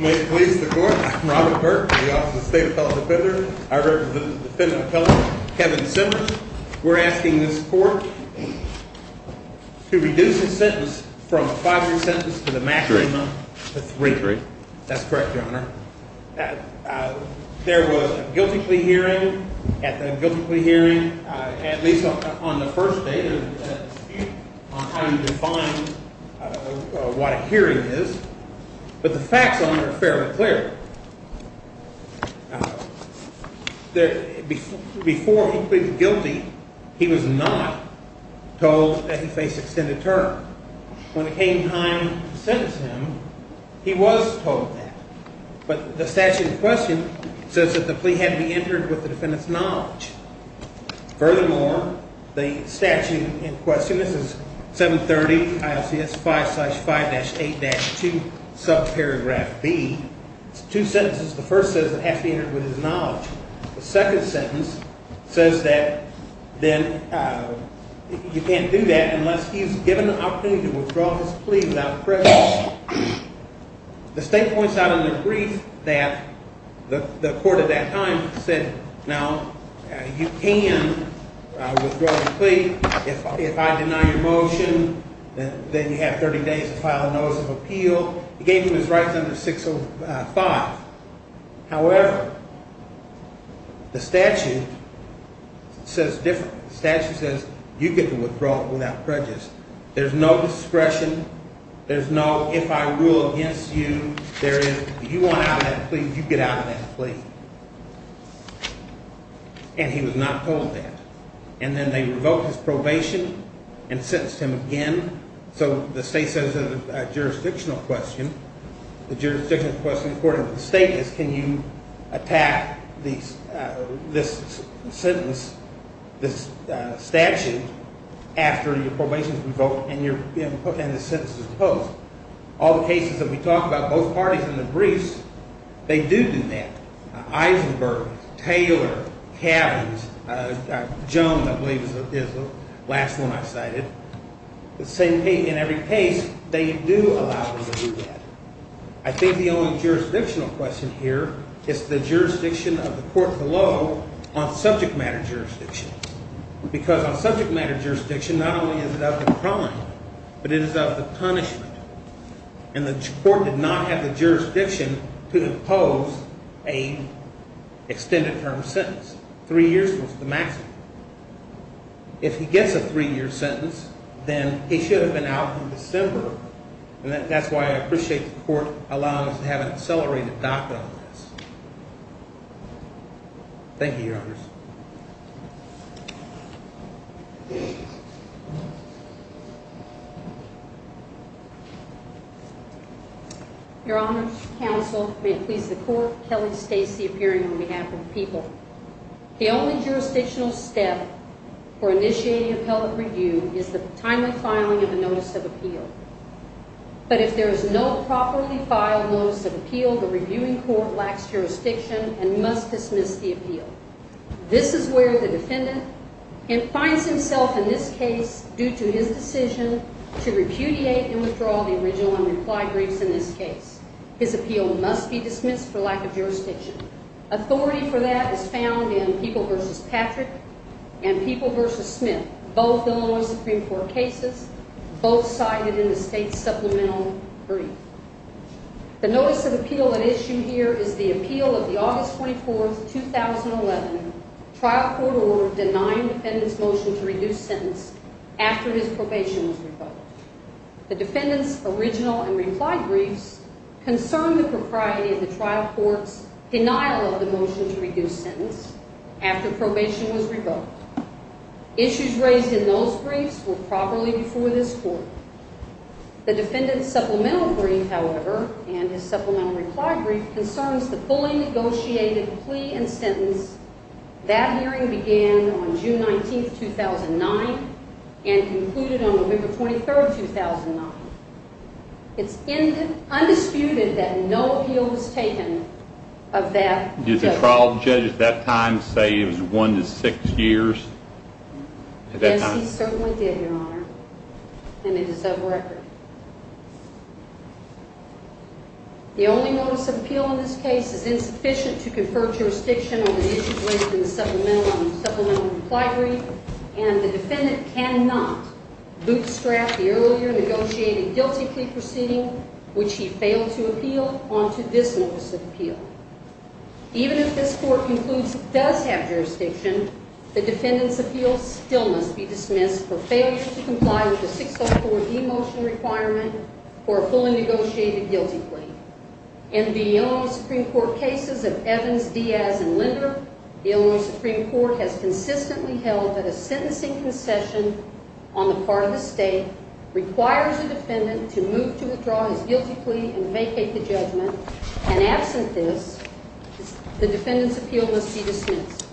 May it please the Court, I'm Robert Burke, the Office of the State Appellate Defender. I represent the defendant appellant Kevin Simmers. We're asking this court to reduce the sentence from a 5-3 sentence to the maximum of 3-3. That's correct, Your Honor. There was a guilty plea hearing at the guilty plea hearing, at least on the first day of the dispute, on how you define what a hearing is. But the facts on there are fairly clear. Before he pleaded guilty, he was not told that he faced extended term. When it came time to sentence him, he was told that. But the statute in question says that the plea had to be entered with the defendant's knowledge. Furthermore, the statute in question, this is 730 ILCS 5-5-8-2, subparagraph B. It's two sentences. The first says it has to be entered with his knowledge. The second sentence says that then you can't do that unless he's given the opportunity to withdraw his plea without prejudice. The state points out in their brief that the court at that time said, now, you can withdraw your plea if I deny your motion, then you have 30 days to file a notice of appeal. It gave him his rights under 605. However, the statute says different. The statute says you get to withdraw it without prejudice. There's no discretion. There's no if I rule against you, there is, you want out of that plea, you get out of that plea. And he was not told that. And then they revoked his probation and sentenced him again. So the state says it's a jurisdictional question. The jurisdictional question according to the state is can you attack this sentence, this statute, after your probation is revoked and your sentence is imposed. All the cases that we talk about, both parties in the briefs, they do do that. Eisenberg, Taylor, Cavins, Jones I believe is the last one I cited. In every case, they do allow them to do that. I think the only jurisdictional question here is the jurisdiction of the court below on subject matter jurisdiction. Because on subject matter jurisdiction, not only is it of the crime, but it is of the punishment. And the court did not have the jurisdiction to impose an extended term sentence. Three years was the maximum. If he gets a three year sentence, then he should have been out in December. And that's why I appreciate the court allowing us to have an accelerated docket on this. Thank you, Your Honors. Your Honors, counsel, may it please the court, Kelly Stacey appearing on behalf of the people. The only jurisdictional step for initiating appellate review is the timely filing of the notice of appeal. But if there is no properly filed notice of appeal, the reviewing court lacks jurisdiction and must dismiss the appeal. This is where the defendant finds himself in this case due to his decision to repudiate and withdraw the original and reply briefs in this case. His appeal must be dismissed for lack of jurisdiction. Authority for that is found in people versus Patrick and people versus Smith, both Illinois Supreme Court cases, both cited in the state supplemental brief. The notice of appeal at issue here is the appeal of the August 24, 2011, trial court order denying defendant's motion to reduce sentence after his probation was revoked. The defendant's original and reply briefs concern the propriety of the trial court's denial of the motion to reduce sentence after probation was revoked. Issues raised in those briefs were properly before this court. The defendant's supplemental brief, however, and his supplemental reply brief concerns the fully negotiated plea and sentence that hearing began on June 19, 2009 and concluded on November 23, 2009. It's undisputed that no appeal was taken of that judgment. Did the trial judge at that time say it was one to six years? Yes, he certainly did, Your Honor, and it is of record. The only notice of appeal in this case is insufficient to confer jurisdiction on the issues raised in the supplemental and the supplemental reply brief, and the defendant cannot bootstrap the earlier negotiated guilty plea proceeding, which he failed to appeal, onto this notice of appeal. Even if this court concludes it does have jurisdiction, the defendant's appeal still must be dismissed for failure to comply with the 604 demotion requirement for a fully negotiated guilty plea. In the Illinois Supreme Court cases of Evans, Diaz, and Linder, the Illinois Supreme Court has consistently held that a sentencing concession on the part of the state requires the defendant to move to withdraw his guilty plea and vacate the judgment, and absent this, the defendant's appeal must be dismissed.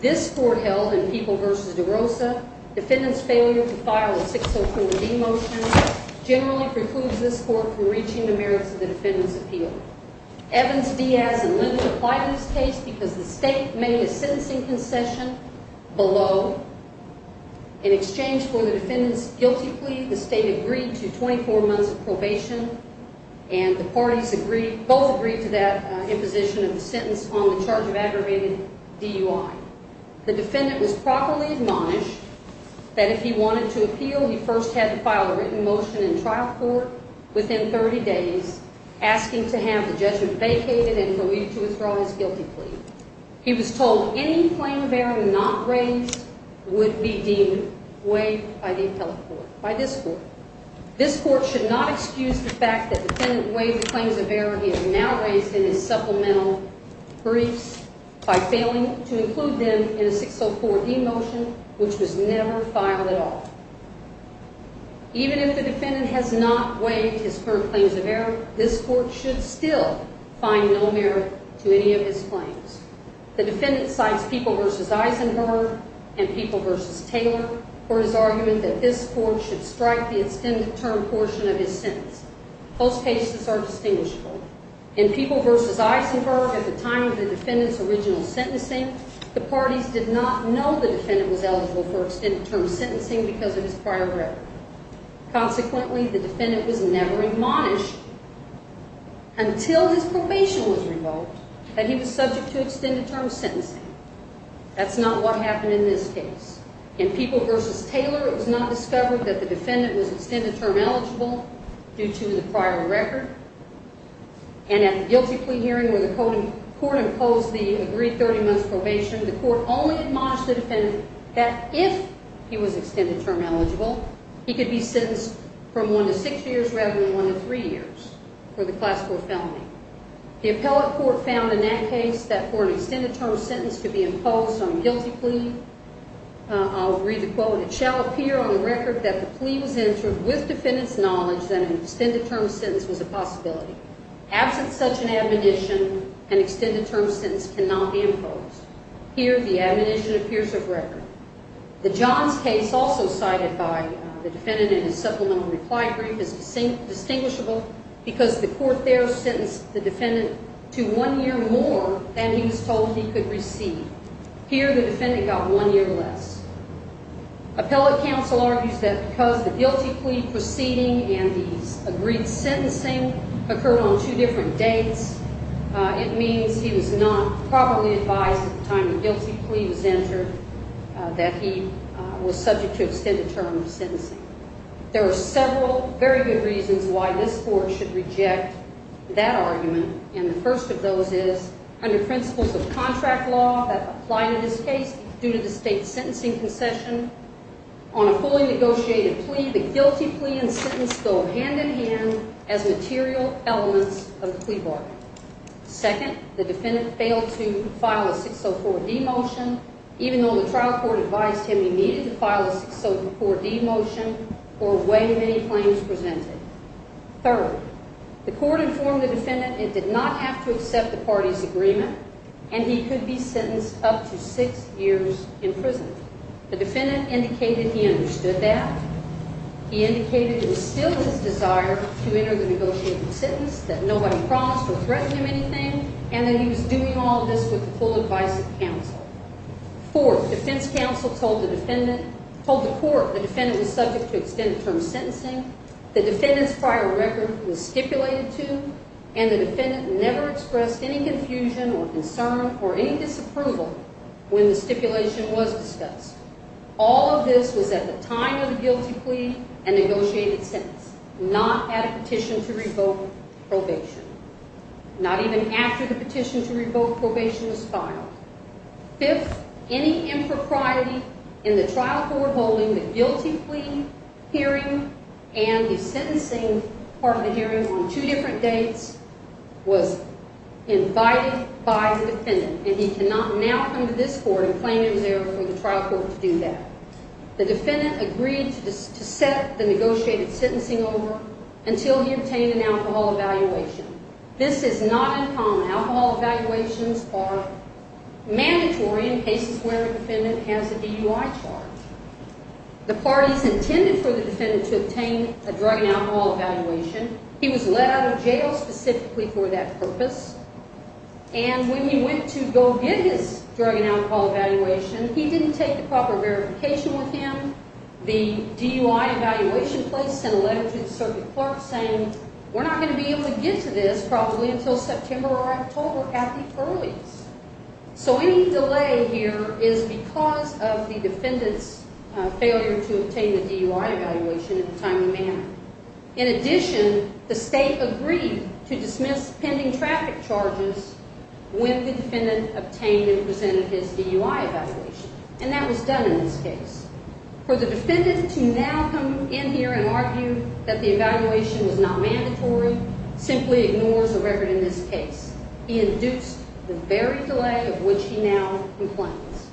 This court held in People v. DeRosa, defendant's failure to file a 604 demotion generally precludes this court from reaching the merits of the defendant's appeal. Evans, Diaz, and Linder applied this case because the state made a sentencing concession below. In exchange for the defendant's guilty plea, the state agreed to 24 months of probation, and the parties both agreed to that imposition of the sentence on the charge of aggravated DUI. The defendant was properly admonished that if he wanted to appeal, he first had to file a written motion in trial court within 30 days, asking to have the judgment vacated and relieved to withdraw his guilty plea. He was told any claim of error not raised would be deemed waived by the appellate court, by this court. This court should not excuse the fact that the defendant waived the claims of error he has now raised in his supplemental briefs by failing to include them in a 604 demotion which was never filed at all. Even if the defendant has not waived his current claims of error, this court should still find no merit to any of his claims. The defendant cites People v. Eisenberg and People v. Taylor for his argument that this court should strike the extended term portion of his sentence. Both cases are distinguishable. In People v. Eisenberg, at the time of the defendant's original sentencing, the parties did not know the defendant was eligible for extended term sentencing because of his prior record. Consequently, the defendant was never admonished until his probation was revoked that he was subject to extended term sentencing. That's not what happened in this case. In People v. Taylor, it was not discovered that the defendant was extended term eligible due to the prior record. And at the guilty plea hearing where the court imposed the agreed 30 months probation, the court only admonished the defendant that if he was extended term eligible, he could be sentenced from one to six years rather than one to three years for the class 4 felony. The appellate court found in that case that for an extended term sentence to be imposed on a guilty plea, I'll read the quote, it shall appear on the record that the plea was answered with defendant's knowledge that an extended term sentence was a possibility. Absent such an admonition, an extended term sentence cannot be imposed. Here, the admonition appears of record. The Johns case also cited by the defendant in his supplemental reply brief is distinguishable because the court there sentenced the defendant to one year more than he was told he could receive. Here, the defendant got one year less. Appellate counsel argues that because the guilty plea proceeding and the agreed sentencing occurred on two different dates, it means he was not properly advised at the time the guilty plea was entered that he was subject to extended term sentencing. There are several very good reasons why this court should reject that argument. And the first of those is under principles of contract law that apply to this case due to the state sentencing concession on a fully negotiated plea, the guilty plea and sentence go hand in hand as material elements of the plea bargain. Second, the defendant failed to file a 604D motion, even though the trial court advised him he needed to file a 604D motion for way many claims presented. Third, the court informed the defendant it did not have to accept the party's agreement and he could be sentenced up to six years in prison. The defendant indicated he understood that. He indicated it was still his desire to enter the negotiated sentence, that nobody promised or threatened him anything, and that he was doing all of this with the full advice of counsel. Fourth, defense counsel told the court the defendant was subject to extended term sentencing, the defendant's prior record was stipulated to, and the defendant never expressed any confusion or concern or any disapproval when the stipulation was discussed. All of this was at the time of the guilty plea and negotiated sentence, not at a petition to revoke probation. Not even after the petition to revoke probation was filed. Fifth, any impropriety in the trial court holding the guilty plea hearing and the sentencing part of the hearing on two different dates was invited by the defendant, and he cannot now come to this court and claim he was there for the trial court to do that. The defendant agreed to set the negotiated sentencing over until he obtained an alcohol evaluation. This is not uncommon. Alcohol evaluations are mandatory in cases where a defendant has a DUI charge. The parties intended for the defendant to obtain a drug and alcohol evaluation. He was let out of jail specifically for that purpose, and when he went to go get his drug and alcohol evaluation, he didn't take the proper verification with him. The DUI evaluation place sent a letter to the circuit clerk saying, we're not going to be able to get to this probably until September or October at the earliest. So any delay here is because of the defendant's failure to obtain the DUI evaluation in a timely manner. In addition, the state agreed to dismiss pending traffic charges when the defendant obtained and presented his DUI evaluation, and that was done in this case. For the defendant to now come in here and argue that the evaluation was not mandatory simply ignores the record in this case. He induced the very delay of which he now complains.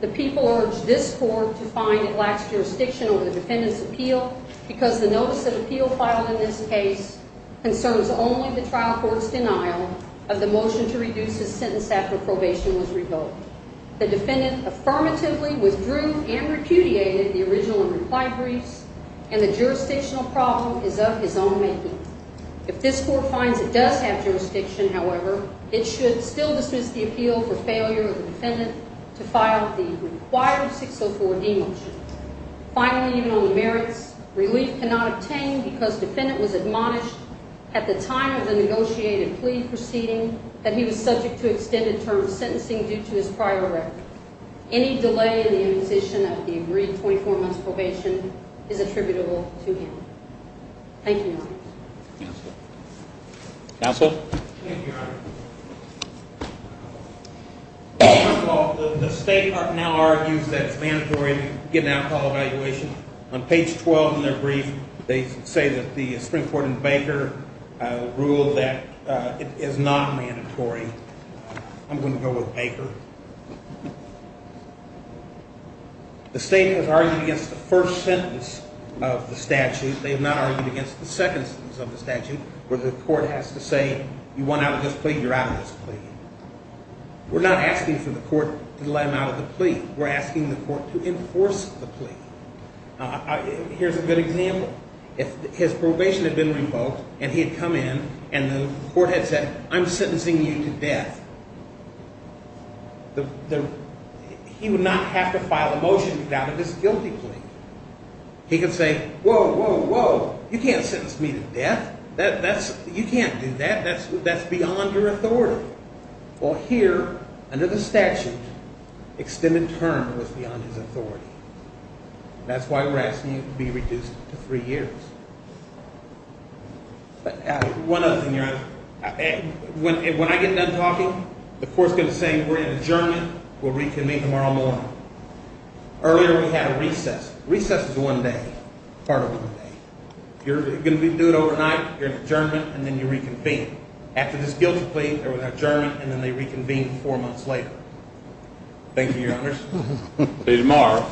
The people urged this court to find it lacks jurisdiction over the defendant's appeal because the notice of appeal filed in this case concerns only the trial court's denial of the motion to reduce his sentence after probation was revoked. The defendant affirmatively withdrew and repudiated the original and reply briefs, and the jurisdictional problem is of his own making. If this court finds it does have jurisdiction, however, it should still dismiss the appeal for failure of the defendant to file the required 604D motion. Finally, even on the merits, relief cannot obtain because defendant was admonished at the time of the negotiated plea proceeding that he was subject to extended term sentencing due to his prior record. Any delay in the imposition of the agreed 24 months probation is attributable to him. Thank you, Your Honor. Counsel? Thank you, Your Honor. First of all, the state now argues that it's mandatory to get an alcohol evaluation. On page 12 in their brief, they say that the Supreme Court and Baker rule that it is not mandatory. I'm going to go with Baker. The state has argued against the first sentence of the statute. They have not argued against the second sentence of the statute where the court has to say, you want out of this plea? You're out of this plea. We're not asking for the court to let him out of the plea. We're asking the court to enforce the plea. Here's a good example. If his probation had been revoked and he had come in and the court had said, I'm sentencing you to death, he would not have to file a motion without a disguilty plea. He could say, whoa, whoa, whoa, you can't sentence me to death. You can't do that. That's beyond your authority. Well, here, under the statute, extended term was beyond his authority. That's why we're asking you to be reduced to three years. One other thing, Your Honor. When I get done talking, the court's going to say we're in adjournment. We'll reconvene tomorrow morning. Earlier we had a recess. Recess is one day, part of one day. If you're going to do it overnight, you're in adjournment, and then you reconvene. After this guilty plea, they're without adjournment, and then they reconvene four months later. Thank you, Your Honors. See you tomorrow.